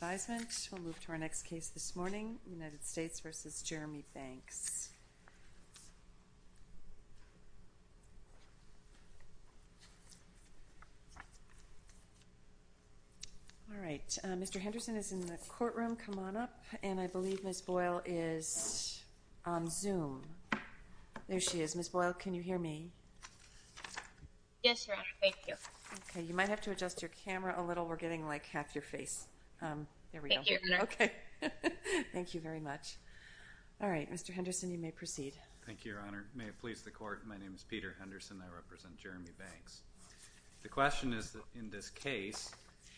All right, Mr. Henderson is in the courtroom, come on up, and I believe Ms. Boyle is on Zoom. There she is. Ms. Boyle, can you hear me? Yes, Your Honor. Thank you. Okay. You might have to adjust your camera a little. Ms. Boyle, we're getting like half your face. There we go. Thank you, Your Honor. Okay. Thank you very much. All right, Mr. Henderson, you may proceed. Thank you, Your Honor. May it please the Court, my name is Peter Henderson. I represent Jeremy Banks. The question is that in this case,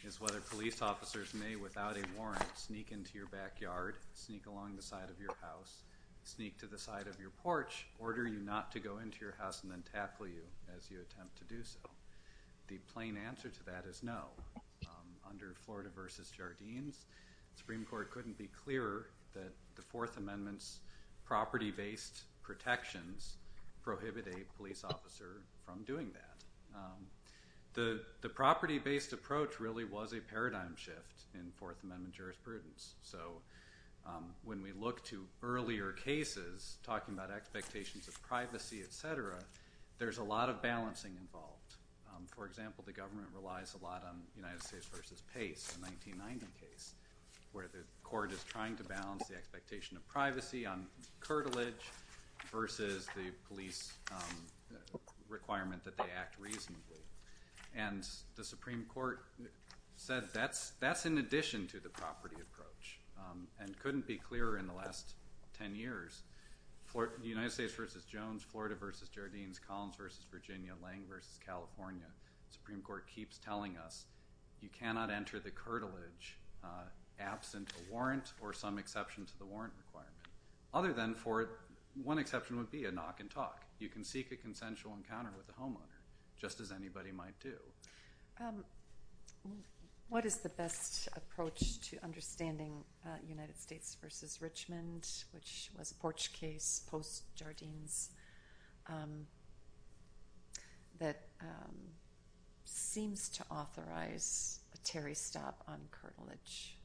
is whether police officers may, without a warrant, sneak into your backyard, sneak along the side of your house, sneak to the side of your porch, order you not to go into your house and then tackle you as you attempt to do so. The plain answer to that is no. I think it's fair to say that the Supreme Court, under Florida v. Jardines, the Supreme Court couldn't be clearer that the Fourth Amendment's property-based protections prohibit a police officer from doing that. The property-based approach really was a paradigm shift in Fourth Amendment jurisprudence. So when we look to earlier cases, talking about expectations of privacy, et cetera, there's a lot of balancing involved. For example, the government relies a lot on United States v. Pace, a 1990 case, where the court is trying to balance the expectation of privacy on curtilage versus the police requirement that they act reasonably. And the Supreme Court said that's in addition to the property approach and couldn't be clearer in the last ten years. The United States v. Jones, Florida v. Jardines, Collins v. Virginia, Lang v. California, the Supreme Court keeps telling us you cannot enter the curtilage absent a warrant or some exception to the warrant requirement. Other than for, one exception would be a knock and talk. You can seek a consensual encounter with the homeowner, just as anybody might do. What is the best approach to understanding United States v. Richmond, which was a porch case post Jardines, that seems to authorize a Terry stop on curtilage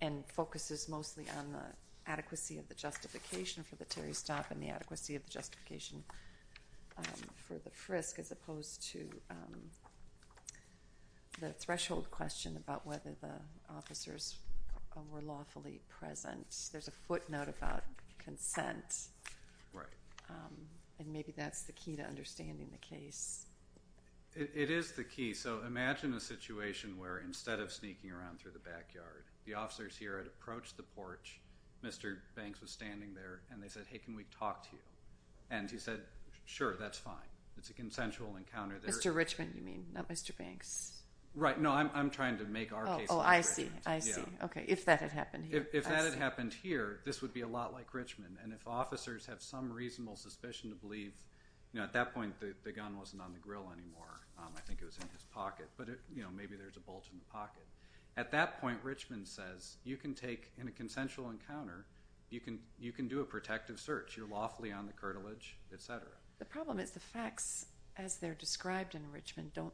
and focuses mostly on the adequacy of the justification for the Terry stop and the adequacy of the justification for the frisk as opposed to the threshold question about whether the officers were lawfully present. There's a footnote about consent, and maybe that's the key to understanding the case. It is the key. So imagine a situation where instead of sneaking around through the backyard, the officers here had approached the porch, Mr. Banks was standing there, and they said, hey, can we talk to you? And he said, sure, that's fine. It's a consensual encounter. Mr. Richmond, you mean? Not Mr. Banks? Right. No, I'm trying to make our case. Oh, I see. I see. Okay. If that had happened here. If that had happened here, this would be a lot like Richmond. And if officers have some reasonable suspicion to believe, at that point, the gun wasn't on the grill anymore. I think it was in his pocket. But maybe there's a bolt in the pocket. At that point, Richmond says, you can take, in a consensual encounter, you can do a protective search. You can do a protective search. You're lawfully on the curtilage, et cetera. The problem is the facts, as they're described in Richmond, don't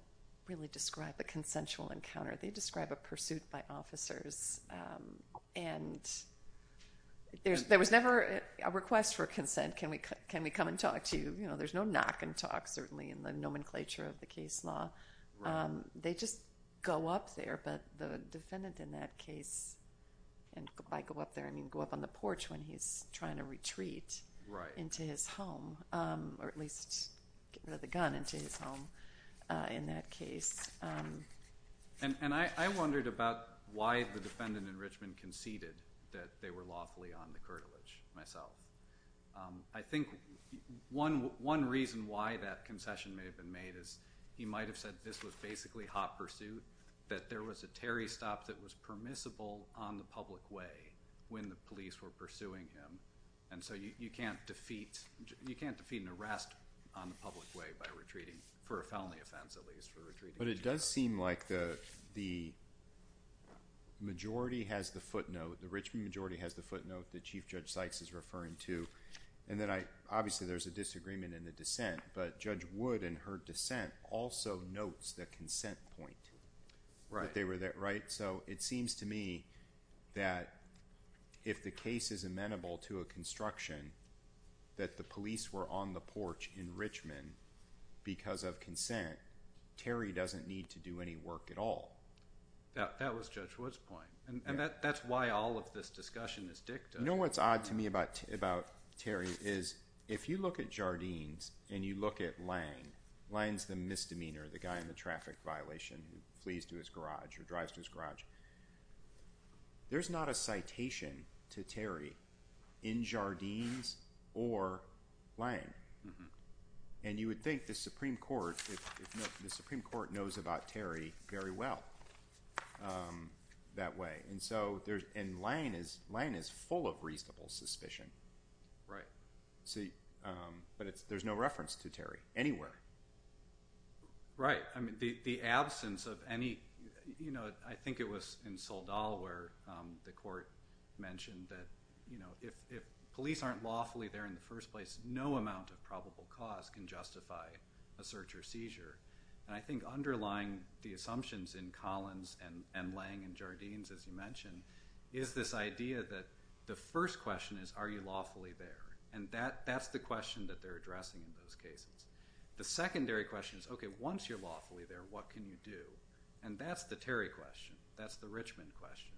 really describe the consensual encounter. They describe a pursuit by officers, and there was never a request for consent, can we come and talk to you? You know, there's no knock and talk, certainly, in the nomenclature of the case law. They just go up there, but the defendant in that case, and I go up there, I mean, go up on the porch when he's trying to retreat into his home, or at least, get the gun into his home, in that case. And I wondered about why the defendant in Richmond conceded that they were lawfully on the curtilage, myself. I think one reason why that concession may have been made is he might have said this was basically hot pursuit, that there was a Terry stop that was permissible on the public way when the police were pursuing him, and so you can't defeat, you can't defeat an arrest on the public way by retreating, for a felony offense, at least, for retreating. But it does seem like the majority has the footnote, the Richmond majority has the footnote that Chief Judge Sykes is referring to, and then I, obviously, there's a disagreement in the dissent, but Judge Wood, in her dissent, also notes the consent point. Right. So it seems to me that if the case is amenable to a construction, that the police were on the porch in Richmond because of consent, Terry doesn't need to do any work at all. That was Judge Wood's point, and that's why all of this discussion is dictated. You know what's odd to me about Terry is, if you look at Jardines and you look at Lange, Lange's the misdemeanor, the guy in the traffic violation, who flees to his garage or drives to his garage, there's not a citation to Terry in Jardines or Lange, and you would think the Supreme Court, if not, the Supreme Court knows about Terry very well that way, and so there's, and Lange is, Lange is full of reasonable suspicion. Right. But there's no reference to Terry anywhere. Right. I mean, the absence of any, you know, I think it was in Soldal where the court mentioned that, you know, if police aren't lawfully there in the first place, no amount of probable cause can justify a search or seizure. And I think underlying the assumptions in Collins and Lange and Jardines, as you mentioned, is this idea that the first question is, are you lawfully there? And that's the question that they're addressing in those cases. The secondary question is, okay, once you're lawfully there, what can you do? And that's the Terry question. That's the Richmond question.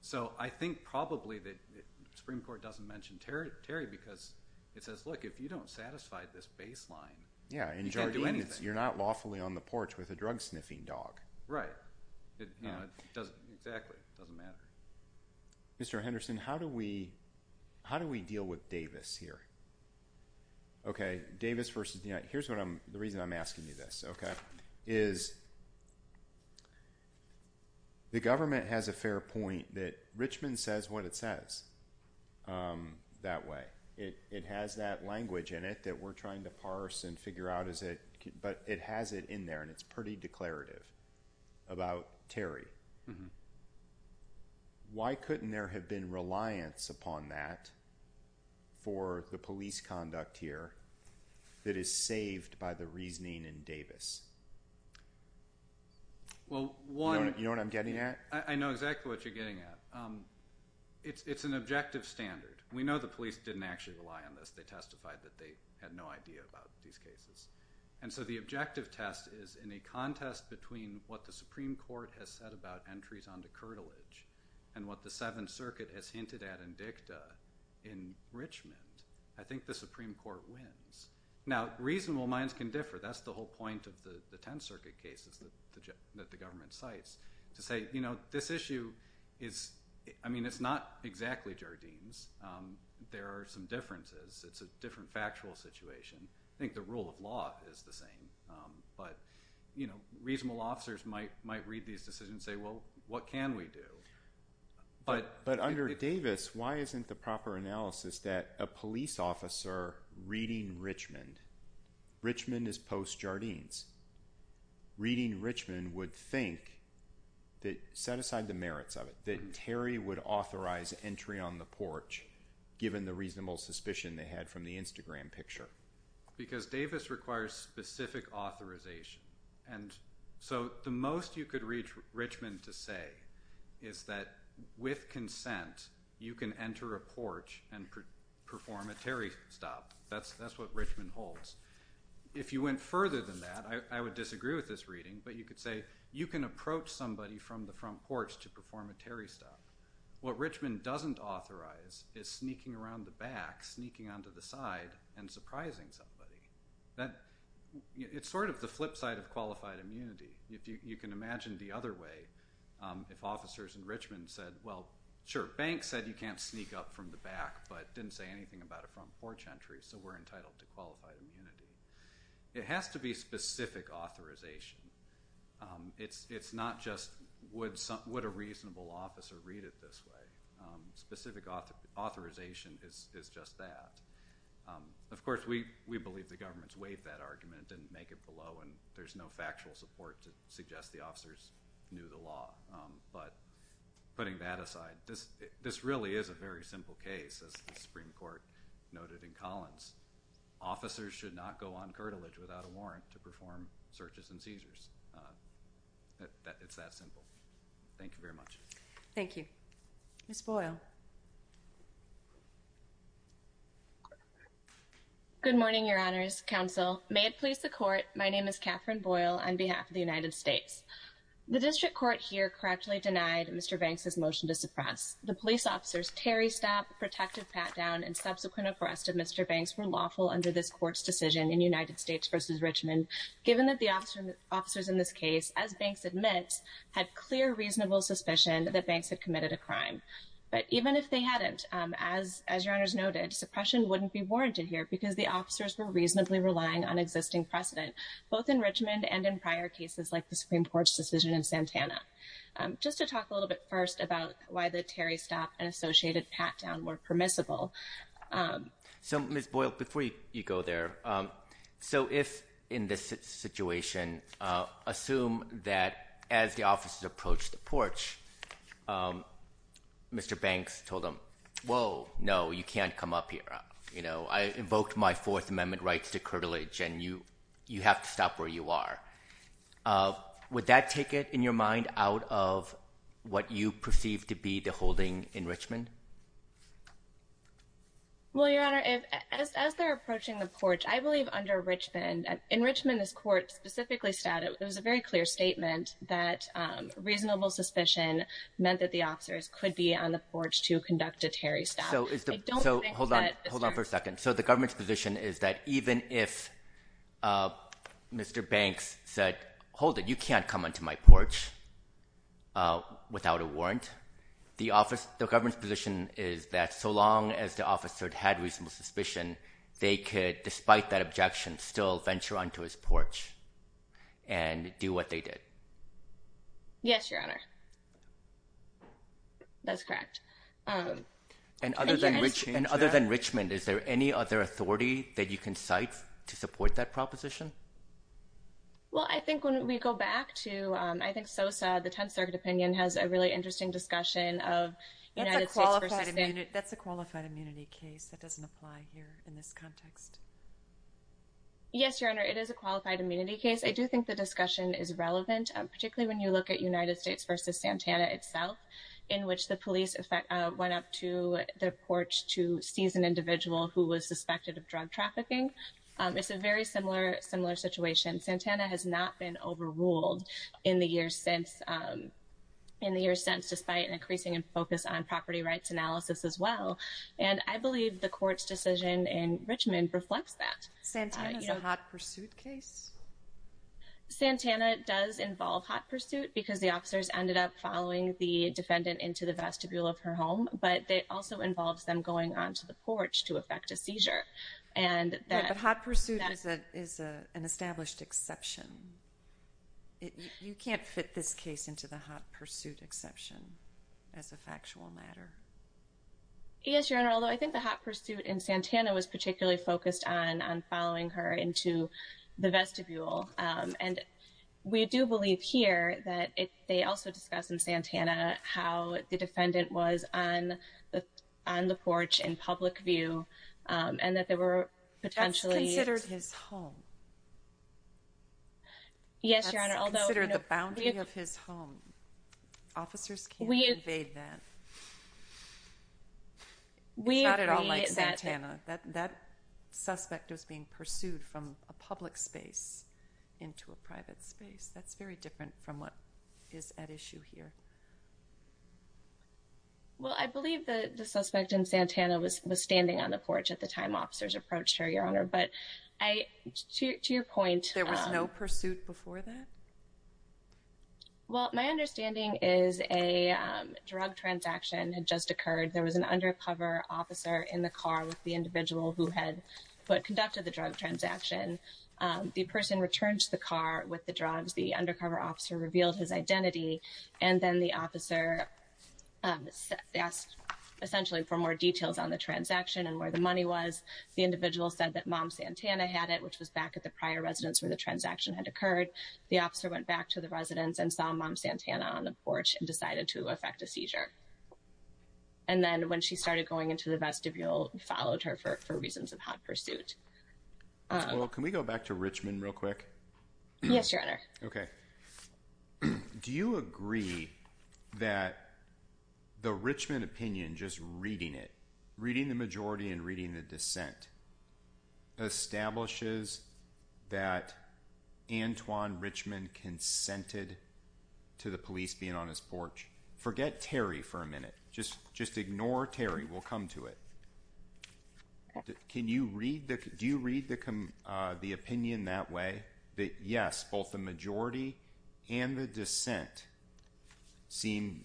So I think probably that the Supreme Court doesn't mention Terry because it says, look, if you don't satisfy this baseline, you can't do anything. Yeah, in Jardines, you're not lawfully on the porch with a drug-sniffing dog. Right. Exactly. It doesn't matter. Mr. Henderson, how do we deal with Davis here? Okay. Davis versus, you know, here's what I'm, the reason I'm asking you this, okay, is the government has a fair point that Richmond says what it says that way. It has that language in it that we're trying to parse and figure out, but it has it in about Terry. Why couldn't there have been reliance upon that for the police conduct here that is saved by the reasoning in Davis? You know what I'm getting at? I know exactly what you're getting at. It's an objective standard. We know the police didn't actually rely on this. They testified that they had no idea about these cases. And so the objective test is in a contest between what the Supreme Court has said about entries onto curtilage and what the Seventh Circuit has hinted at in dicta in Richmond, I think the Supreme Court wins. Now, reasonable minds can differ. That's the whole point of the Tenth Circuit cases that the government cites, to say, you know, this issue is, I mean, it's not exactly Jardines. There are some differences. It's a different factual situation. I think the rule of law is the same. But, you know, reasonable officers might read these decisions and say, well, what can we do? But under Davis, why isn't the proper analysis that a police officer reading Richmond, Richmond is post-Jardines, reading Richmond would think, set aside the merits of it, that Terry would authorize entry on the porch given the reasonable suspicion they had from the Davis requires specific authorization. And so the most you could reach Richmond to say is that with consent, you can enter a porch and perform a Terry stop. That's what Richmond holds. If you went further than that, I would disagree with this reading, but you could say you can approach somebody from the front porch to perform a Terry stop. What Richmond doesn't authorize is sneaking around the back, sneaking onto the side and surprising somebody. It's sort of the flip side of qualified immunity. You can imagine the other way. If officers in Richmond said, well, sure, Banks said you can't sneak up from the back, but didn't say anything about a front porch entry, so we're entitled to qualified immunity. It has to be specific authorization. It's not just would a reasonable officer read it this way. Specific authorization is just that. Of course, we believe the government's weighed that argument and make it below, and there's no factual support to suggest the officers knew the law. But putting that aside, this really is a very simple case. As the Supreme Court noted in Collins, officers should not go on curtilage without a warrant to perform searches and seizures. It's that simple. Thank you very much. Thank you. Ms. Boyle. Good morning, Your Honors, Counsel. May it please the Court, my name is Katherine Boyle on behalf of the United States. The District Court here correctly denied Mr. Banks' motion to suppress. The police officers, Terry Stapp, Protective Patdown, and subsequent arrest of Mr. Banks were lawful under this Court's decision in United States v. Richmond, given that the officers in this case, as Banks admits, had clear reasonable suspicion that Banks had committed a crime. But even if they hadn't, as Your Honors noted, suppression wouldn't be warranted here because the officers were reasonably relying on existing precedent, both in Richmond and in prior cases like the Supreme Court's decision in Santana. Just to talk a little bit first about why the Terry Stapp and Associated Patdown were permissible. So, Ms. Boyle, before you go there, so if in this situation, assume that as the officers approach the porch, Mr. Banks told them, whoa, no, you can't come up here. You know, I invoked my Fourth Amendment rights to curtilage and you have to stop where you are. Would that take it, in your mind, out of what you perceive to be the holding in Richmond? Well, Your Honor, as they're approaching the porch, I believe under Richmond, in Richmond this Court specifically stated, it was a very clear statement that reasonable suspicion meant that the officers could be on the porch to conduct a Terry Stapp. So hold on for a second. So the government's position is that even if Mr. Banks said, hold it, you can't come onto my porch without a warrant, the government's position is that so long as the officer had reasonable suspicion, they could, despite that objection, still venture onto his porch and do what they did. Yes, Your Honor. That's correct. And other than Richmond, is there any other authority that you can cite to support that proposition? Well, I think when we go back to, I think Sosa, the Tenth Circuit opinion, has a really interesting discussion of United States versus State. That's a qualified immunity case. That doesn't apply here in this context. Yes, Your Honor, it is a qualified immunity case. I do think the discussion is relevant, particularly when you look at United States versus Santana itself, in which the police went up to the porch to seize an individual who was suspected of drug trafficking. It's a very similar situation. Santana has not been overruled in the years since, despite an increasing focus on property rights analysis as well. And I believe the Court's decision in Richmond reflects that. Santana is a hot pursuit case? Santana does involve hot pursuit because the officers ended up following the defendant into the vestibule of her home, but it also involves them going onto the porch to effect a seizure. But hot pursuit is an established exception. You can't fit this case into the hot pursuit exception as a factual matter. Yes, Your Honor, although I think the hot pursuit in Santana was particularly focused on following her into the vestibule. And we do believe here that they also discuss in Santana how the defendant was on the porch in public view and that there were potentially... Yes, Your Honor, although... That's considered the boundary of his home. Officers can't evade that. We agree that... It's not at all like Santana. That suspect was being pursued from a public space into a private space. That's very different from what is at issue here. Well, I believe the suspect in Santana was standing on the porch at the time officers approached her, Your Honor. But to your point... There was no pursuit before that? Well, my understanding is a drug transaction had just occurred. There was an undercover officer in the car with the individual who had conducted the drug transaction. The person returned to the car with the drugs. The undercover officer revealed his identity. And then the officer asked essentially for more details on the transaction and where the money was. The individual said that Mom Santana had it, which was back at the prior residence where the transaction had occurred. The officer went back to the residence and saw Mom Santana on the porch and decided to effect a seizure. And then when she started going into the vestibule, followed her for reasons of hot pursuit. Well, can we go back to Richmond real quick? Yes, Your Honor. Okay. Do you agree that the Richmond opinion, just reading it, reading the majority and reading the dissent, establishes that Antoine Richmond consented to the police being on his porch? Forget Terry for a minute. Just ignore Terry. We'll come to it. Do you read the opinion that way, that yes, both the majority and the dissent seem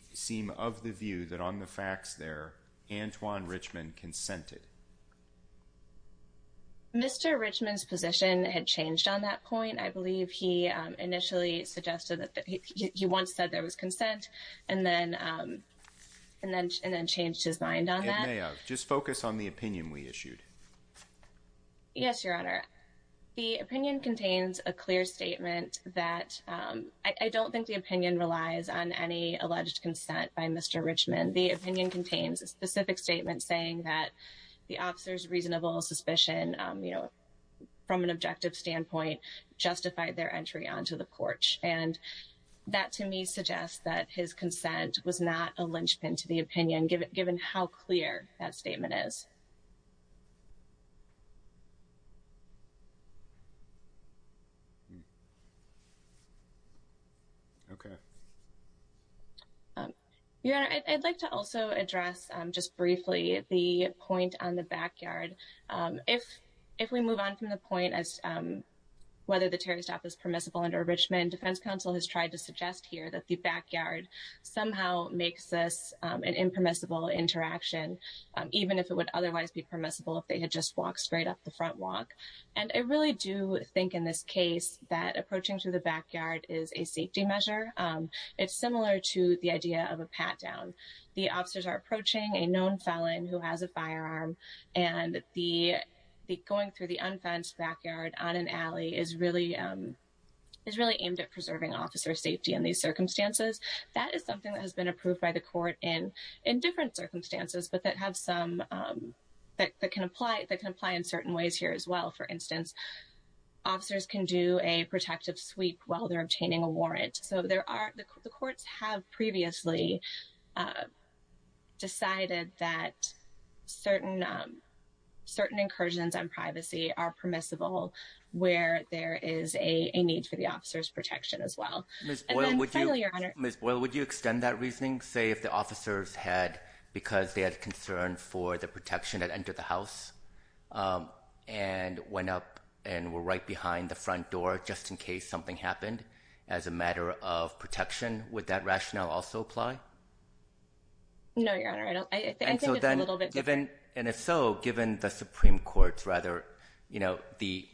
of the view that on the facts there, Antoine Richmond consented? Mr. Richmond's position had changed on that point. I believe he initially suggested that he once said there was consent and then changed his mind on that. It may have. Just focus on the opinion we issued. Yes, Your Honor. The opinion contains a clear statement that I don't think the opinion relies on any alleged consent by Mr. Richmond. The opinion contains a specific statement saying that the officer's reasonable suspicion, you know, from an objective standpoint, justified their entry onto the porch. And that to me suggests that his consent was not a linchpin to the opinion, given how clear that statement is. Okay. Your Honor, I'd like to also address just briefly the point on the backyard. If we move on from the point as whether the Terry stop is permissible under Richmond, defense counsel has tried to suggest here that the backyard somehow makes this an impermissible interaction, even if it would otherwise be permissible if they had just walked straight up the front walk. And I really do think in this case that approaching through the backyard is a safety measure. It's similar to the idea of a pat down. The officers are approaching a known felon who has a firearm and the going through the unfenced backyard on an alley is really is really aimed at preserving officer safety in these circumstances. That is something that has been approved by the court in in different circumstances, but that have some that can apply that can apply in certain ways here as well. For instance, officers can do a protective sweep while they're obtaining a warrant. So there are the courts have previously decided that certain certain incursions on privacy are permissible where there is a need for the officer's protection as well. Miss Boyle, would you extend that reasoning? Say if the officers had because they had concern for the protection that entered the house and went up and were right behind the front door, just in case something happened as a matter of protection, would that rationale also apply? No, Your Honor. I don't I think it's a little bit different. And if so, given the Supreme Court's rather, you know, the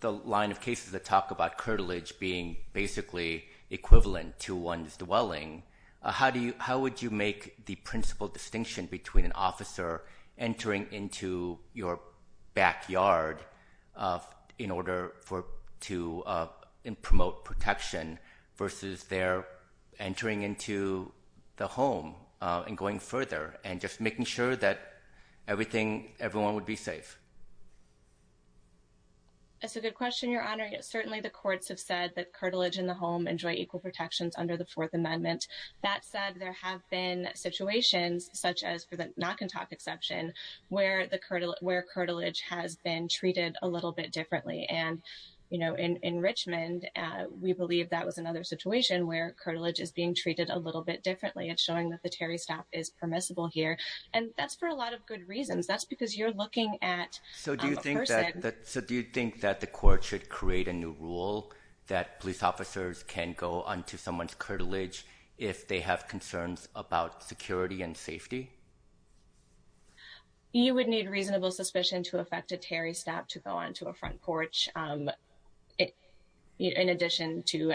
the line of cases that talk about curtilage being basically equivalent to one's dwelling. How do you how would you make the principal distinction between an officer entering into your backyard in order for to promote protection versus they're entering into the home and going further and just making sure that everything everyone would be safe? It's a good question, Your Honor. Certainly, the courts have said that curtilage in the home enjoy equal protections under the Fourth Amendment. That said, there have been situations such as for the knock and talk exception where the where curtilage has been treated a little bit differently. And, you know, in Richmond, we believe that was another situation where curtilage is being treated a little bit differently and showing that the Terry staff is permissible here. And that's for a lot of good reasons. That's because you're looking at. So do you think that the court should create a new rule that police officers can go onto someone's curtilage if they have concerns about security and safety? You would need reasonable suspicion to affect a Terry staff to go onto a front porch. In addition to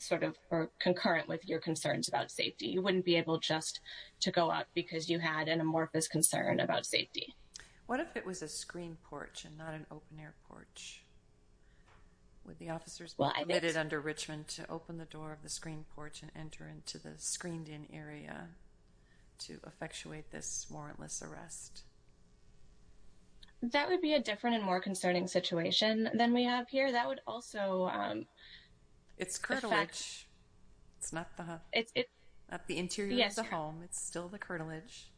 sort of concurrent with your concerns about safety, you wouldn't be able just to go out because you had an amorphous concern about safety. What if it was a screen porch and not an open air porch? Would the officers be permitted under Richmond to open the door of the screen porch and enter into the screened in area to effectuate this warrantless arrest? That would be a different and more concerning situation than we have here. That would also. It's curtilage. It's not the it's not the interior of the home. It's still the curtilage.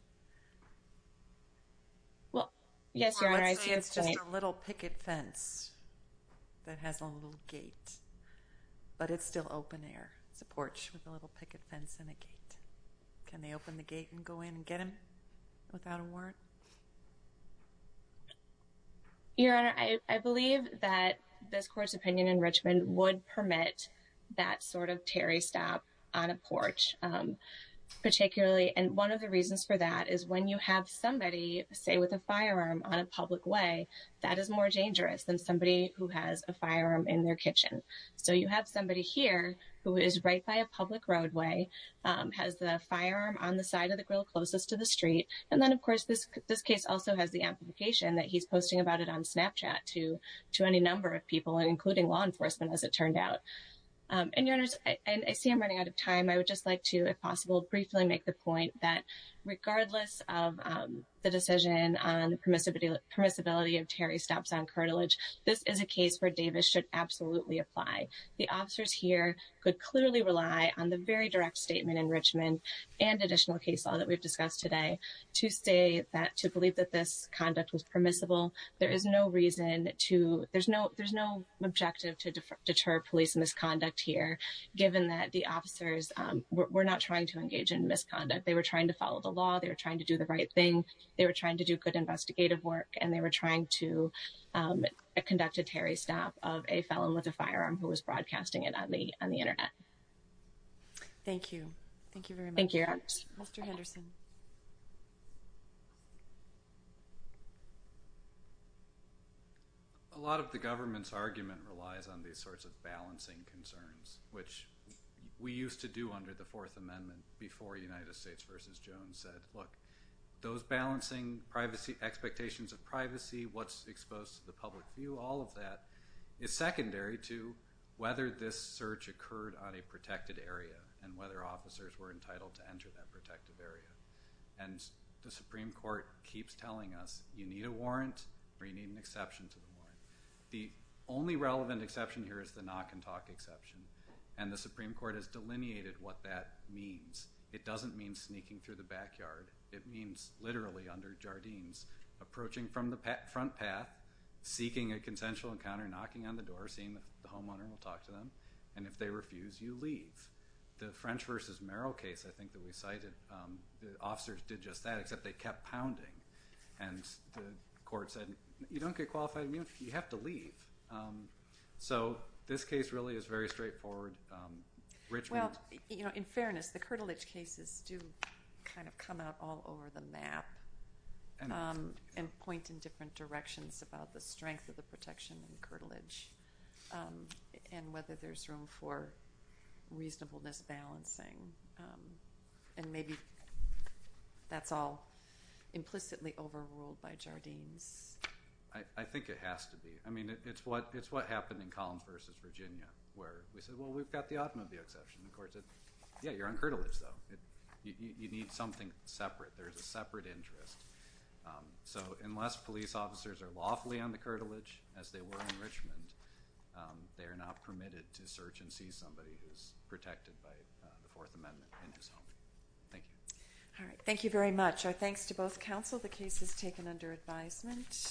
Well, yes, your honor. It's just a little picket fence that has a little gate. But it's still open air support with a little picket fence in the gate. Can they open the gate and go in and get him without a warrant? Your honor, I believe that this court's opinion in Richmond would permit that sort of Terry stop on a porch, particularly. And one of the reasons for that is when you have somebody, say, with a firearm on a public way, that is more dangerous than somebody who has a firearm in their kitchen. So you have somebody here who is right by a public roadway, has the firearm on the side of the grill closest to the street. And then, of course, this this case also has the amplification that he's posting about it on Snapchat to to any number of people, including law enforcement, as it turned out. And I see I'm running out of time. I would just like to, if possible, briefly make the point that regardless of the decision on the permissibility of Terry stops on curtilage, this is a case where Davis should absolutely apply. The officers here could clearly rely on the very direct statement in Richmond and additional case law that we've discussed today to say that to believe that this conduct was permissible. There is no reason to there's no there's no objective to deter police misconduct here, given that the officers were not trying to engage in misconduct. They were trying to follow the law. They were trying to do the right thing. They were trying to do good investigative work. And they were trying to conduct a Terry stop of a felon with a firearm who was broadcasting it on the on the Internet. Thank you. Thank you. Thank you, Mr. Henderson. A lot of the government's argument relies on these sorts of balancing concerns, which we used to do under the Fourth Amendment before United States versus Jones said, look, those balancing privacy expectations of privacy, what's exposed to the public view, all of that is secondary to whether this search occurred on a protected area and whether officers were entitled to enter that protected area. And the Supreme Court keeps telling us you need a warrant or you need an exception to the warrant. The only relevant exception here is the knock and talk exception. And the Supreme Court has delineated what that means. It doesn't mean sneaking through the backyard. It means literally under Jardines approaching from the front path, seeking a consensual encounter, knocking on the door, seeing the homeowner and talk to them. And if they refuse, you leave the French versus Merrill case. I think that we cited the officers did just that, except they kept pounding. And the court said, you don't get qualified immunity. You have to leave. So this case really is very straightforward. Well, you know, in fairness, the curtilage cases do kind of come out all over the map and point in different directions about the strength of the protection and curtilage and whether there's room for reasonableness balancing. And maybe that's all implicitly overruled by Jardines. I think it has to be. I mean, it's what happened in Collins versus Virginia where we said, well, we've got the option of the exception. The court said, yeah, you're on curtilage, though. You need something separate. There's a separate interest. So unless police officers are lawfully on the curtilage, as they were in Richmond, they are not permitted to search and see somebody who's protected by the Fourth Amendment in his home. Thank you. All right. Thank you very much. Our thanks to both counsel. The case is taken under advisement.